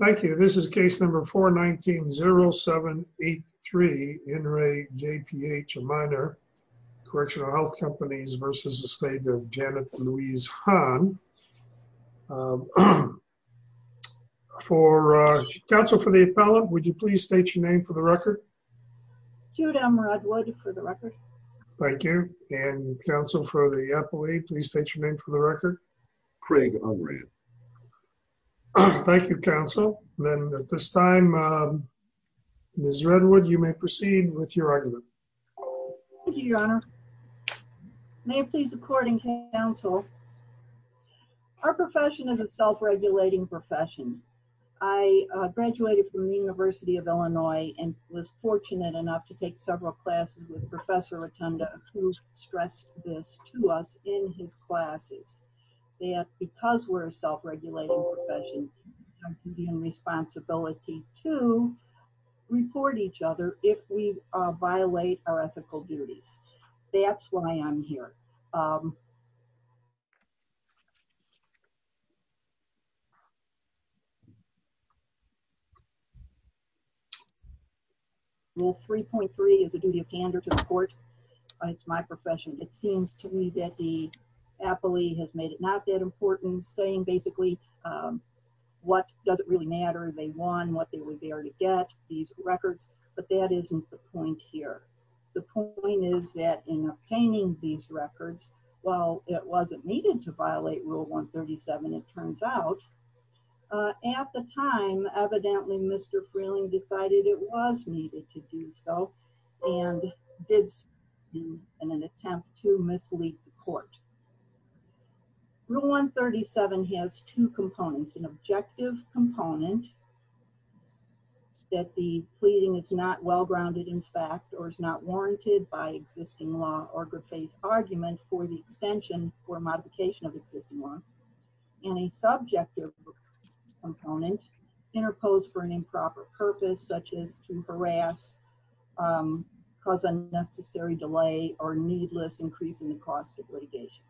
Thank you. This is case number four, 19 zero seven eight three in Ray J.P.H. a minor correctional health companies versus the state of Janet Louise Han. For a council for the appellate. Would you please state your name for the record? Judah. I'm Rodwood for the record. Thank you. And counsel for the appellate, please state your name for the record. Craig. Thank you, counsel. And then at this time, um, Ms. Redwood, you may proceed with your argument. Thank you, your honor. May it please the court and counsel. Our profession is a self-regulating profession. I graduated from the university of Illinois and was fortunate enough to take several classes with professor Rotunda, who stressed this to us in his classes. Yeah, because we're a self-regulating profession, the responsibility to report each other, if we violate our ethical duties, that's why I'm here. Um, well, 3.3 is a duty of candor to the court. It's my profession. It seems to me that the appellee has made it not that important saying basically, um, what does it really matter? They won what they were there to get these records, but that isn't the point here, the point is that in obtaining these records, well, it wasn't needed to violate rule one 37, it turns out. Uh, at the time, evidently Mr. decided it was needed to do so. And it's an attempt to mislead the court. Rule one 37 has two components, an objective component that the pleading is not well-grounded in fact, or is not warranted by existing law or griffith argument for the extension or modification of existing law. And a subjective component interposed for an improper purpose, such as to harass, um, cause unnecessary delay or needless increase in the cost of litigation.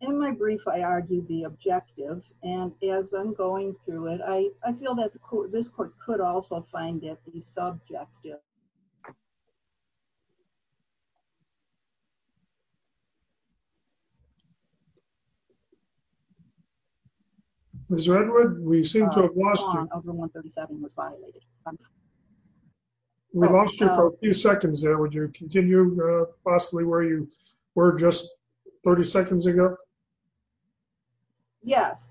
In my brief, I argued the objective and as I'm going through it, I feel that the court, this court could also find that the subjective yeah, Mr. Edward, we seem to have lost over one 37 was violated. We lost you for a few seconds there. Would you continue possibly where you were just 30 seconds ago? Yes,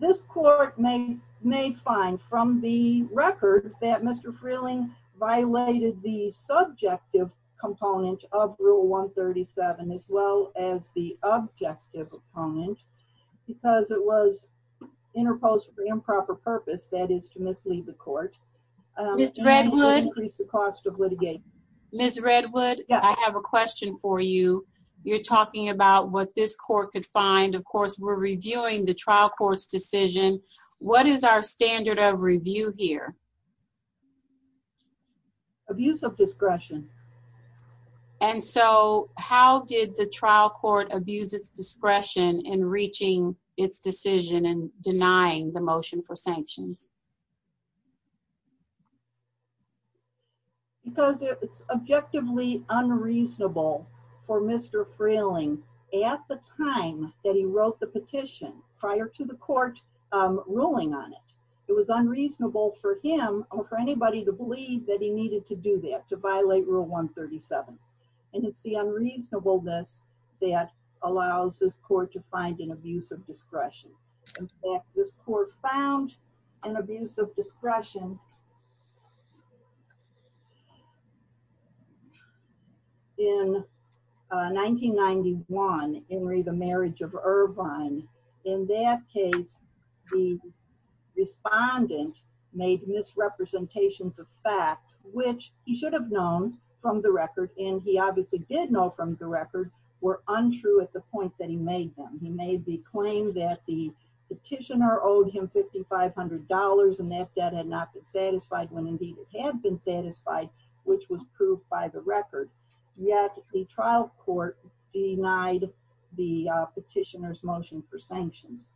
this court may may find from the record that Mr. Freeling violated the subjective component of rule one 37, as well as the objective opponent, because it was interposed for improper purpose. That is to mislead the court. Um, Mr. Redwood, increase the cost of litigation. Ms. Redwood, I have a question for you. You're talking about what this court could find. Of course, we're reviewing the trial court's decision. What is our standard of review here? Abuse of discretion. And so how did the trial court abuse its discretion in reaching its decision and denying the motion for sanctions? Because it's objectively unreasonable for Mr. Freeling at the time that he wrote the petition prior to the court ruling on it. It was unreasonable for him or for anybody to believe that he needed to do that to violate rule one 37. And it's the unreasonableness that allows this court to find an abuse of discretion. In fact, this court found an abuse of discretion. In 1991, Henry, the marriage of Irvine, in that case, the respondent made misrepresentations of fact, which he should have known from the record. And he obviously did know from the record were untrue at the point that he made them. He made the claim that the petitioner owed him $5,500 and that that had not been satisfied when indeed it had been satisfied, which was proved by the record. Yet the trial court denied the petitioner's motion for sanctions.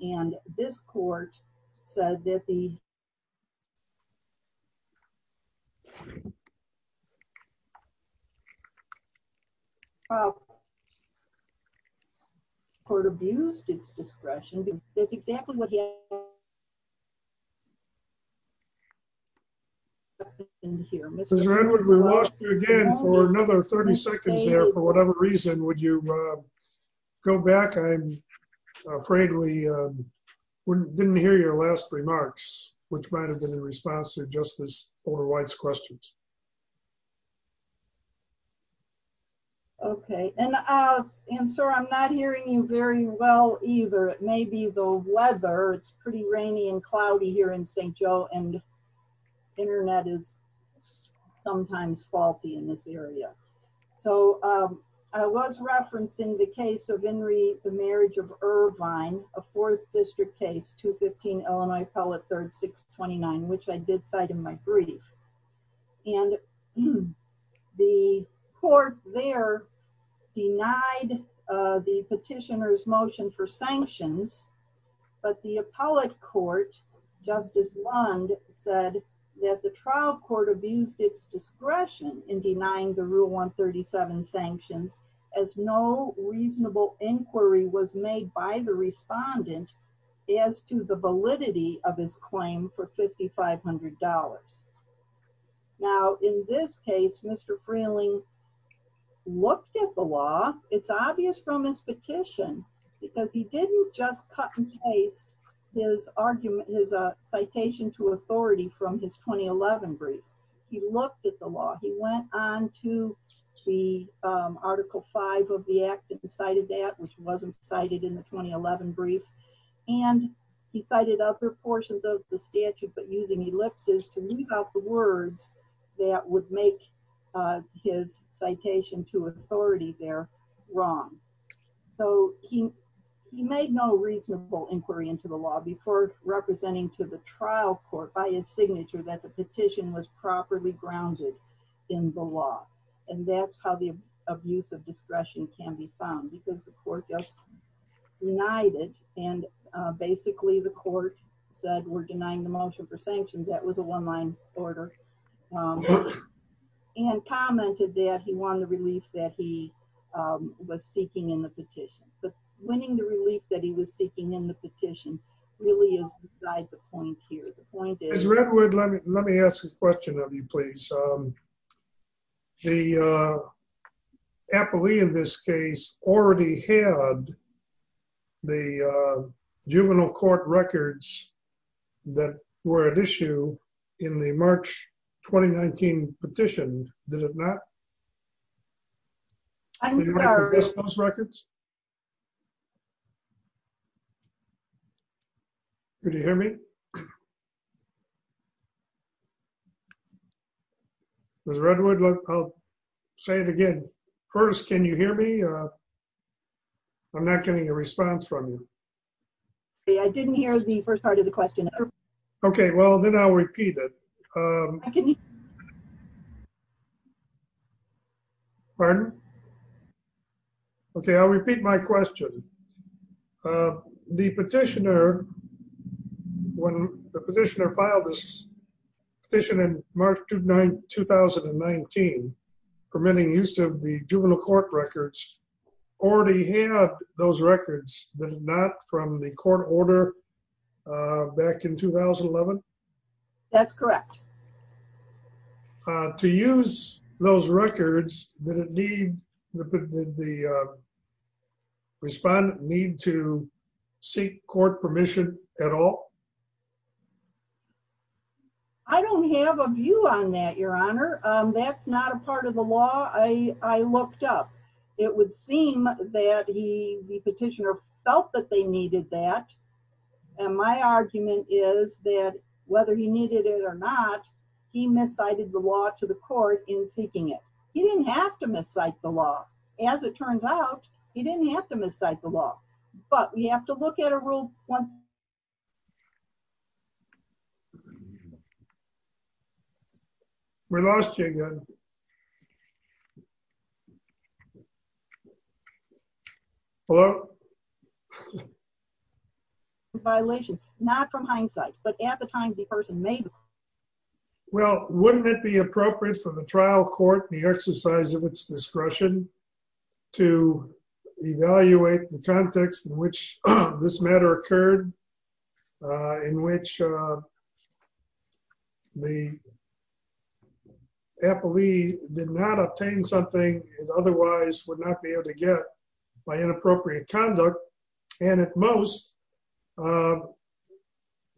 And this court said that the court abused its discretion. That's exactly what. Yeah. In here, Mr. Edward, we lost you again for another 30 seconds there. For whatever reason, would you go back? I'm afraid we didn't hear your last remarks, which might've been in response to justice Porter-White's questions. Okay. And, uh, and sir, I'm not hearing you very well either. It may be the weather. It's pretty rainy and cloudy here in St. Joe and internet is sometimes faulty in this area. So, um, I was referencing the case of Henry, the marriage of Irvine, a fourth district case, two 15, Illinois pellet, third, six 29, which I did cite in my brief and the court there denied the petitioner's motion for sanctions, but the appellate court justice Lund said that the trial court abused its discretion in denying the rule on 37 sanctions as no reasonable inquiry was made by the respondent as to the validity of his claim for $5,500. Now, in this case, Mr. Freeling looked at the law. It's obvious from his petition because he didn't just cut and paste his argument. There's a citation to authority from his 2011 brief. He looked at the law. He went on to the, um, article five of the act that decided that was, wasn't cited in the 2011 brief and he cited other portions of the statute, but using ellipses to leave out the words that would make, uh, his citation to authority there wrong, so he, he made no reasonable inquiry into the law before representing to the trial court by his signature, that the petition was properly grounded. In the law. And that's how the abuse of discretion can be found because the court just united and, uh, basically the court said, we're denying the motion for sanctions, that was a one line order. Um, and commented that he wanted the relief that he, um, was seeking in the petition, but winning the relief that he was seeking in the petition really is besides the point here. The point is Redwood. Let me, let me ask a question of you, please. Um, the, uh, Appley in this case already had the, uh, juvenile court records that were at issue in the March, 2019 petition, did it not? I'm sorry. Do you have those records? Could you hear me? There's Redwood. Look, I'll say it again. First. Can you hear me? Uh, I'm not getting a response from you. Hey, I didn't hear the first part of the question. Okay. Well, then I'll repeat it. Um, pardon? Okay. I'll repeat my question. Uh, the petitioner, when the petitioner filed this petition in March, 2019, permitting use of the juvenile court records, already have those records that are not from the court order, uh, back in 2011? That's correct. Uh, to use those records, did it need, did the, uh, respondant need to seek court permission at all? I don't have a view on that, your honor. Um, that's not a part of the law. I, I looked up, it would seem that he, the petitioner felt that they needed that. And my argument is that whether he needed it or not, he miscited the law to the court in seeking it. He didn't have to miscite the law. As it turns out, he didn't have to miscite the law, but we have to look at a rule. One. We lost you again. Hello? Violation, not from hindsight, but at the time the person made. Well, wouldn't it be appropriate for the trial court, the exercise of its occurred, uh, in which, uh, the appellee did not obtain something it otherwise would not be able to get by inappropriate conduct and at most, uh,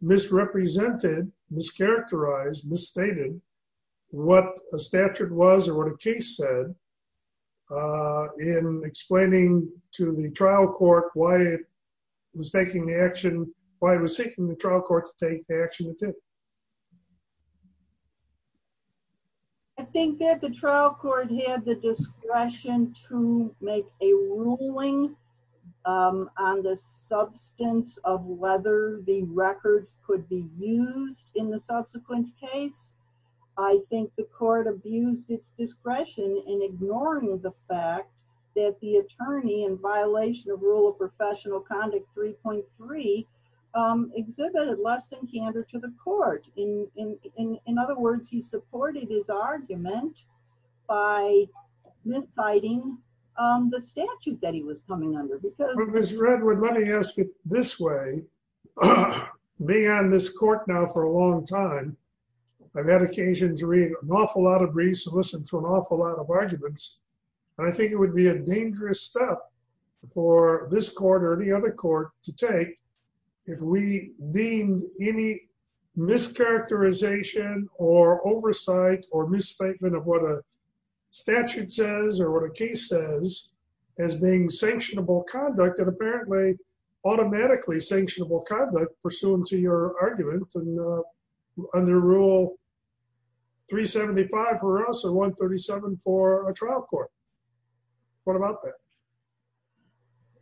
misrepresented, mischaracterized, misstated what a statute was or what a case said, uh, in explaining to the trial court, why it was making the action, why it was seeking the trial court to take action with it. I think that the trial court had the discretion to make a ruling, um, on the substance of whether the records could be used in the subsequent case. I think the court abused its discretion in ignoring the fact that the attorney in violation of rule of professional conduct 3.3, um, exhibited less than candor to the court. In, in, in, in other words, he supported his argument by misciting, um, the statute that he was coming under. Ms. Redwood, let me ask it this way. Being on this court now for a long time, I've had occasion to read an awful lot of briefs and listen to an awful lot of arguments, and I think it would be a dangerous step for this court or any other court to take if we deemed any mischaracterization or oversight or misstatement of what a statute says or what a case says as being sanctionable conduct and apparently automatically sanctionable conduct pursuant to your argument and, uh, under rule 3.75 for us and 1.37 for a trial court. What about that?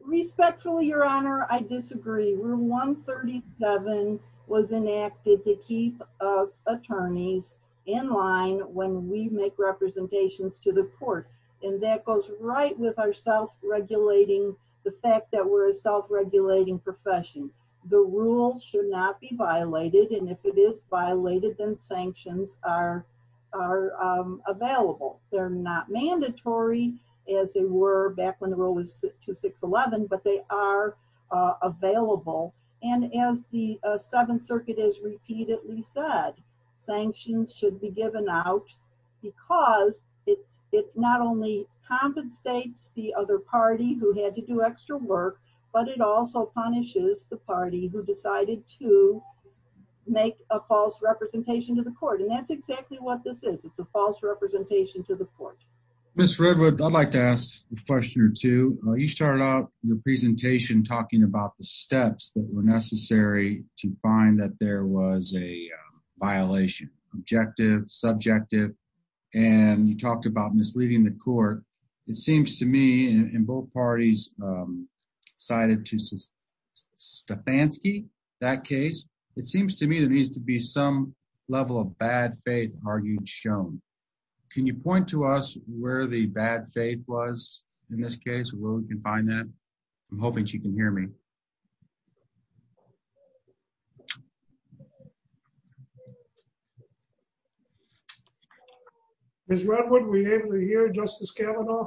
Respectfully, your honor, I disagree. Rule 1.37 was enacted to keep us attorneys in line when we make representations to the court and that goes right with our self-regulating, the fact that we're a self-regulating profession. The rule should not be violated. And if it is violated, then sanctions are, are, um, available. They're not mandatory as they were back when the rule was to 611, but they are, uh, available. And as the, uh, Seventh Circuit has repeatedly said, sanctions should be It's not only compensates the other party who had to do extra work, but it also punishes the party who decided to make a false representation to the court. And that's exactly what this is. It's a false representation to the court. Ms. Redwood, I'd like to ask a question or two. You started out your presentation, talking about the steps that were necessary to find that there was a violation, objective, subjective. And you talked about misleading the court. It seems to me in both parties, um, cited to Stefanski, that case, it seems to me there needs to be some level of bad faith argued shown. Can you point to us where the bad faith was in this case, where we can find that? I'm hoping she can hear me. Okay. Ms. Redwood, we able to hear Justice Kavanaugh?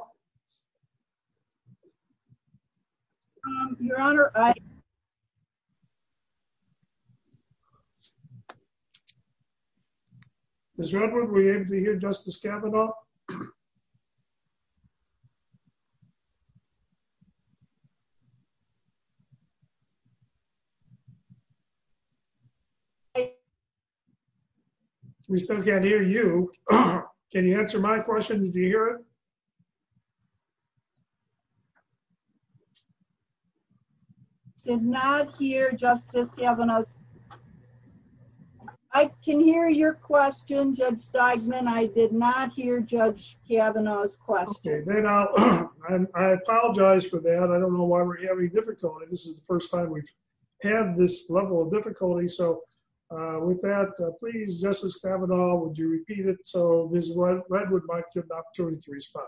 Ms. Redwood, we able to hear Justice Kavanaugh? Okay. We still can't hear you. Can you answer my question? Did you hear it? Did not hear Justice Kavanaugh's. I can hear your question, Judge Steigman. I did not hear Judge Kavanaugh's question. I apologize for that. I don't know why we're having difficulty. This is the first time we've had this level of difficulty. So, uh, with that, please, Justice Kavanaugh, would you repeat it? So, Ms. Redwood might give the opportunity to respond.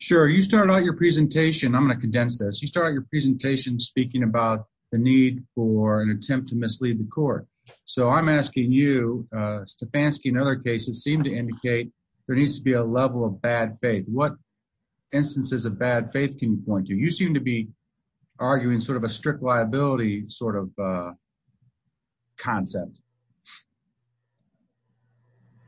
Sure. You started out your presentation. I'm going to condense this. You started your presentation speaking about the need for an attempt to mislead the court. So I'm asking you, uh, Stefanski and other cases seem to indicate there needs to be a level of bad faith. What instances of bad faith can you point to? You seem to be arguing sort of a strict liability sort of, uh, concept.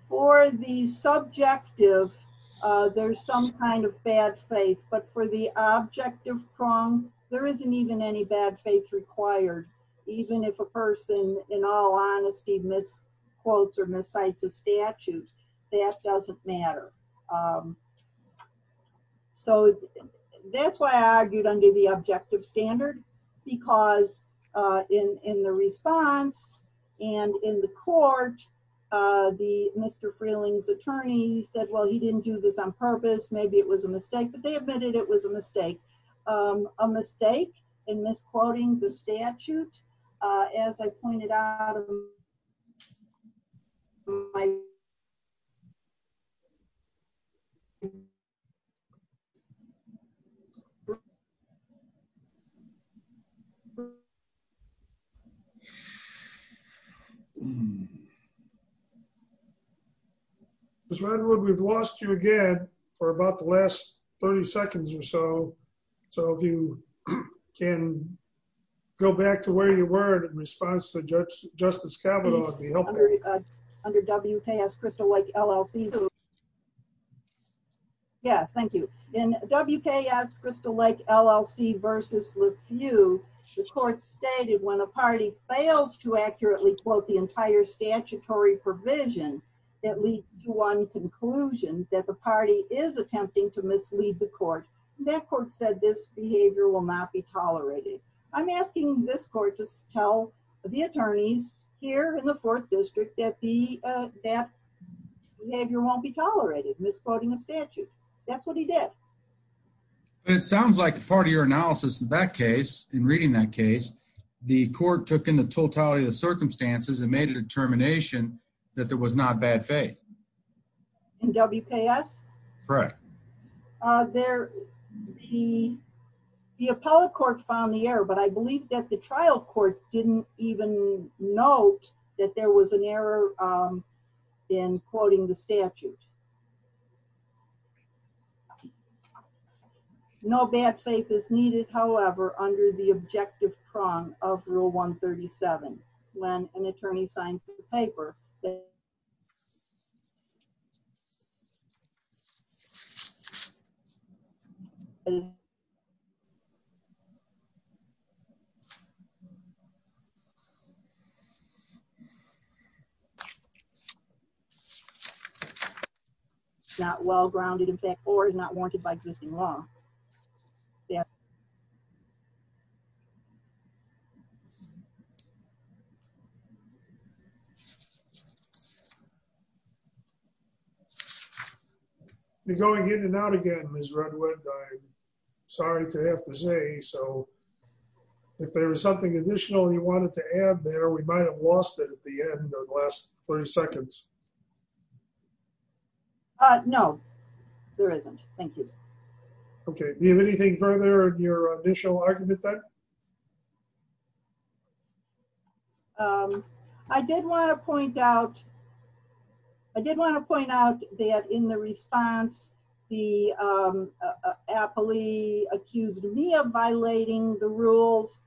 For the subjective, uh, there's some kind of bad faith, but for the objective prong, there isn't even any bad faith required, even if a person in all honesty, misquotes or miscites a statute that doesn't matter. Um, so that's why I argued under the objective standard because, uh, in, in the response and in the court, uh, the Mr. Freeling's attorney said, well, he didn't do this on purpose. Maybe it was a mistake, but they admitted it was a mistake, um, a mistake in misquoting the statute. Uh, as I pointed out, Ms. Redwood, we've lost you again for about the last 30 seconds or so. So if you can go back to where you were in response to judge justice capital under WKS Crystal Lake LLC. Yes. Thank you. And WKS Crystal Lake LLC versus you, the court stated when a party fails to accurately quote the entire statutory provision, at least one conclusion that the party is attempting to mislead the court. That court said this behavior will not be tolerated. I'm asking this court to tell the attorneys here in the fourth district that the, uh, that you won't be tolerated misquoting a statute. That's what he did. It sounds like part of your analysis in that case, in reading that case, the court took in the totality of the circumstances and made a determination that there was not bad faith in WKS. Correct. Uh, there he, the appellate court found the error, but I believe that the trial court didn't even note that there was an error, um, in quoting the statute. No bad faith is needed. However, under the objective prong of rule one 37, when an attorney signs the paper, Okay. Not well grounded in fact, or is not warranted by existing law. Yeah. Yeah. You're going in and out again, Ms. Redwood, I'm sorry to have to say, so if there was something additional you wanted to add there, we might've lost it at the end or the last 30 seconds. Uh, no, there isn't. Thank you. Okay. Do you have anything further in your initial argument there? Um, I did want to point out, I did want to point out that in the response, the, um, uh, appellee accused me of violating the rules,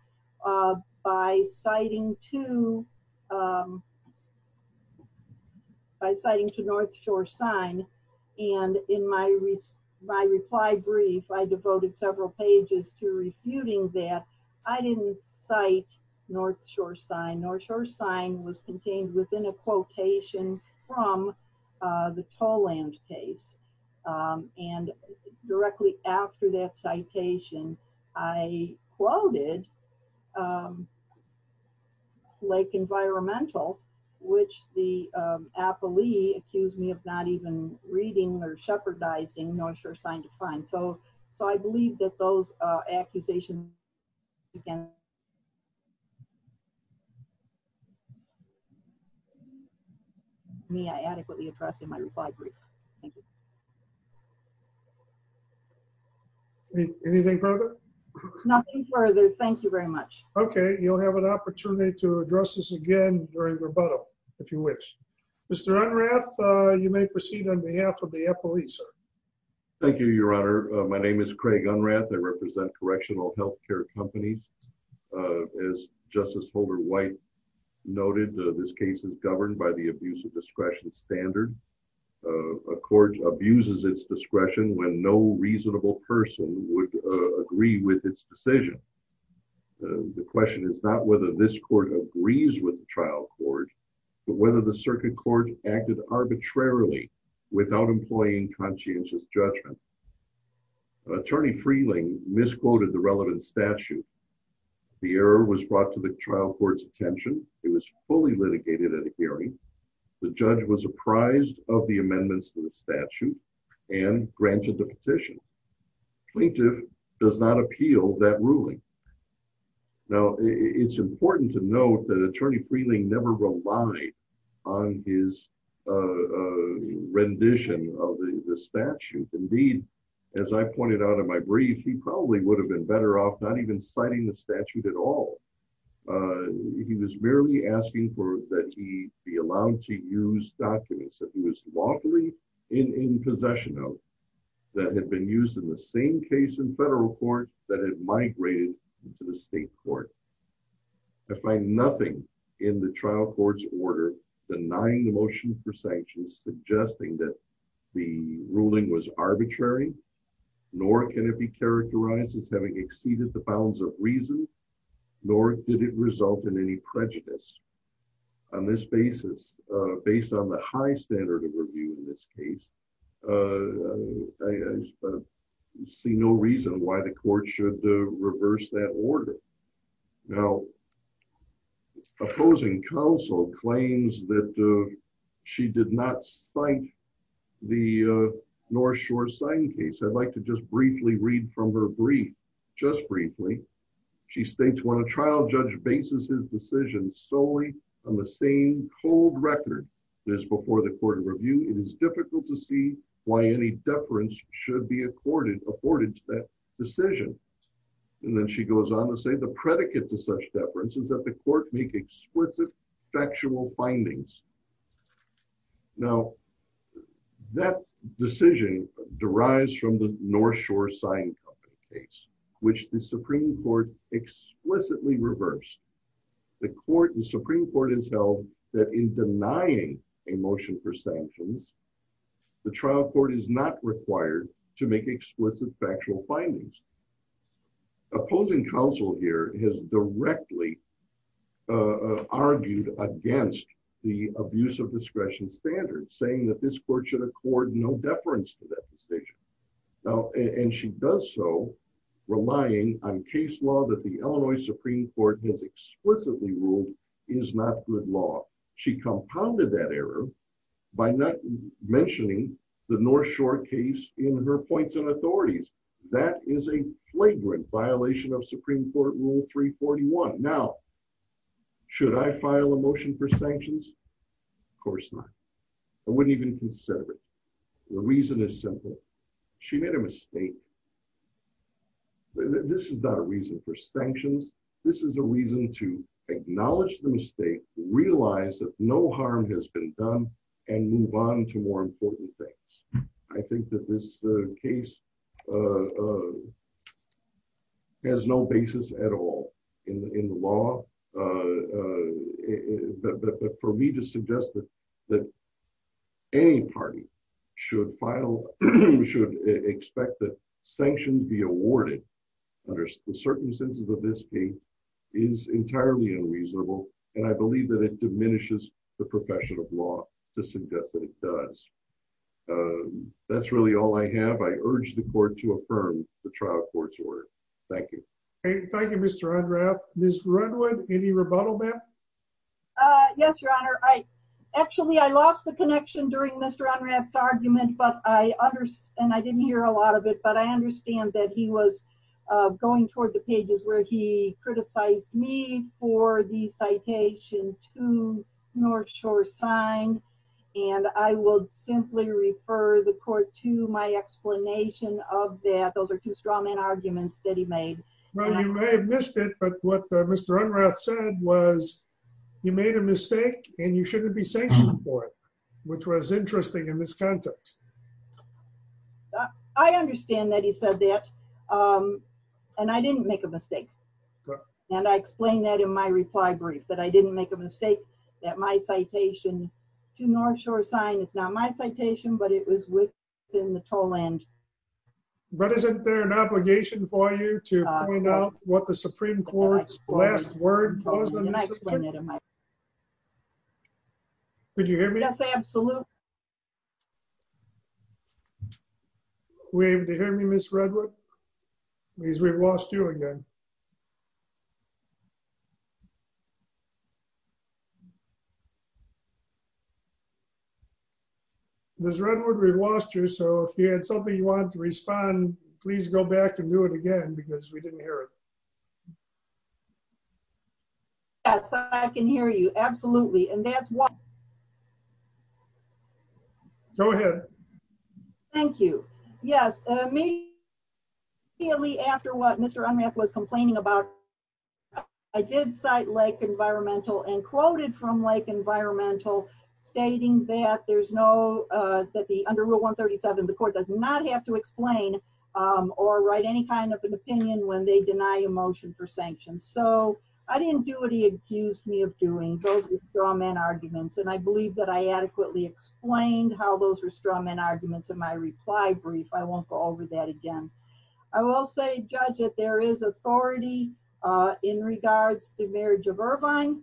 uh, by citing to, um, by reply brief, I devoted several pages to refuting that I didn't cite North shore sign North shore sign was contained within a quotation from, uh, the toll land case. Um, and directly after that citation, I quoted, um, Lake environmental, which the, um, appellee accused me of not even reading or jeopardizing North shore sign to find. So, so I believe that those, uh, accusations you can me, I adequately addressed in my reply brief. Thank you. Anything further? Nothing further. Thank you very much. Okay. You'll have an opportunity to address this again during rebuttal. If you wish, Mr. Unrath, uh, you may proceed on behalf of the police, sir. Thank you, your honor. Uh, my name is Craig Unrath. They represent correctional health care companies. Uh, as justice Holder white noted, uh, this case is governed by the abuse of discretion standard, uh, a court abuses its discretion when no reasonable person would, uh, agree with its decision. Uh, the question is not whether this court agrees with the trial court, but whether the circuit court acted arbitrarily without employing conscientious judgment. Attorney Freeling misquoted the relevant statute. The error was brought to the trial court's attention. It was fully litigated at a hearing. The judge was apprised of the amendments to the statute and granted the petition. Plaintiff does not appeal that ruling. Now it's important to note that attorney Freeling never relied on his, uh, rendition of the statute. Indeed, as I pointed out in my brief, he probably would have been better off not even citing the statute at all. Uh, he was merely asking for that. He be allowed to use documents that he was lawfully in possession of that had been used in the same case in federal court that had migrated to the state court. I find nothing in the trial court's order denying the motion for sanctions, suggesting that the ruling was arbitrary, nor can it be characterized as having exceeded the bounds of reason, nor did it result in any prejudice on this basis, uh, based on the high standard of review in this case, uh, I see no reason why the court should reverse that order. Now, opposing counsel claims that, uh, she did not cite the, uh, North shore sign case, I'd like to just briefly read from her brief, just briefly, she states when a trial judge basis, his decision solely on the same cold record, there's before the court of review, it is difficult to see why any deference should be accorded afforded to that decision. And then she goes on to say the predicate to such deference is that the court make explicit factual findings. Now that decision derives from the North shore sign company case, which the reverse the court and Supreme court has held that in denying a motion for sanctions, the trial court is not required to make explicit factual findings. Opposing counsel here has directly, uh, argued against the abuse of discretion standards saying that this court should accord no deference to that decision. Now, and she does so relying on case law that the Illinois Supreme court has explicitly ruled is not good law. She compounded that error by not mentioning the North shore case in her points and authorities. That is a flagrant violation of Supreme court rule three 41. Now, should I file a motion for sanctions? Of course not. I wouldn't even consider it. The reason is simple. She made a mistake. This is not a reason for sanctions. This is a reason to acknowledge the mistake, realize that no harm has been done and move on to more important things. I think that this case, uh, has no basis at all in the, in the law. Uh, uh, but, but, but for me to suggest that, that any party should file, should expect that sanctioned be awarded under the certain senses of this. Is entirely unreasonable. And I believe that it diminishes the profession of law to suggest that it does. Um, that's really all I have. I urge the court to affirm the trial court's order. Thank you. Hey, thank you, Mr. Ms. Redwood. Any rebuttal, ma'am? Uh, yes, your honor. I actually, I lost the connection during Mr. Unread's argument, but I under, and I didn't hear a lot of it, but I understand that he was going toward the pages where he criticized me for the citation to North shore sign, and I will simply refer the court to my explanation of that. Those are two strong men arguments that he made. Well, you may have missed it, but what Mr. Unread said was you made a mistake and you shouldn't be sanctioned for it, which was interesting in this context. I understand that he said that, um, and I didn't make a mistake. And I explained that in my reply brief, but I didn't make a mistake that my citation to North shore sign is not my citation, but it was within the toll end. But isn't there an obligation for you to find out what the Supreme court's last word was on this? Could you hear me? Yes. Absolutely. We're able to hear me, Ms. Redwood, please. We've lost you again. Ms. Redwood, we've lost you. So if you had something you wanted to respond, please go back and do it again because we didn't hear it. Yeah. So I can hear you. Absolutely. And that's why. Go ahead. Thank you. Yes. Uh, me. Clearly after what Mr. Unread was complaining about, I did cite Lake environmental and quoted from Lake environmental stating that there's no, uh, that the under rule one 37, the court does not have to explain, um, or write any kind of an opinion when they deny a motion for sanctions. So I didn't do what he accused me of doing those with straw man arguments. And I believe that I adequately explained how those were straw men arguments in my reply brief. I won't go over that again. I will say judge that there is authority, uh, in regards to marriage of Irvine.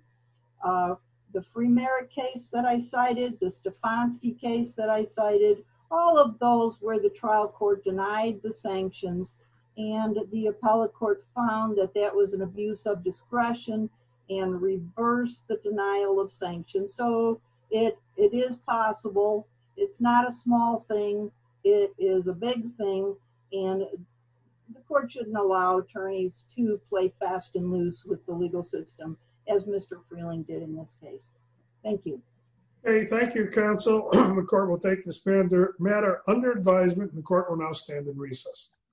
Uh, the free merit case that I cited, the Stefanski case that I cited, all of those where the trial court denied the sanctions and the appellate court found that that was an abuse of discretion and reverse the denial of sanctions. So it, it is possible. It's not a small thing. It is a big thing. And the court shouldn't allow attorneys to play fast and loose with the legal system. As Mr. Freeling did in this case. Thank you. Hey, thank you. Counsel. The court will take this matter under advisement. The court will now stand in recess.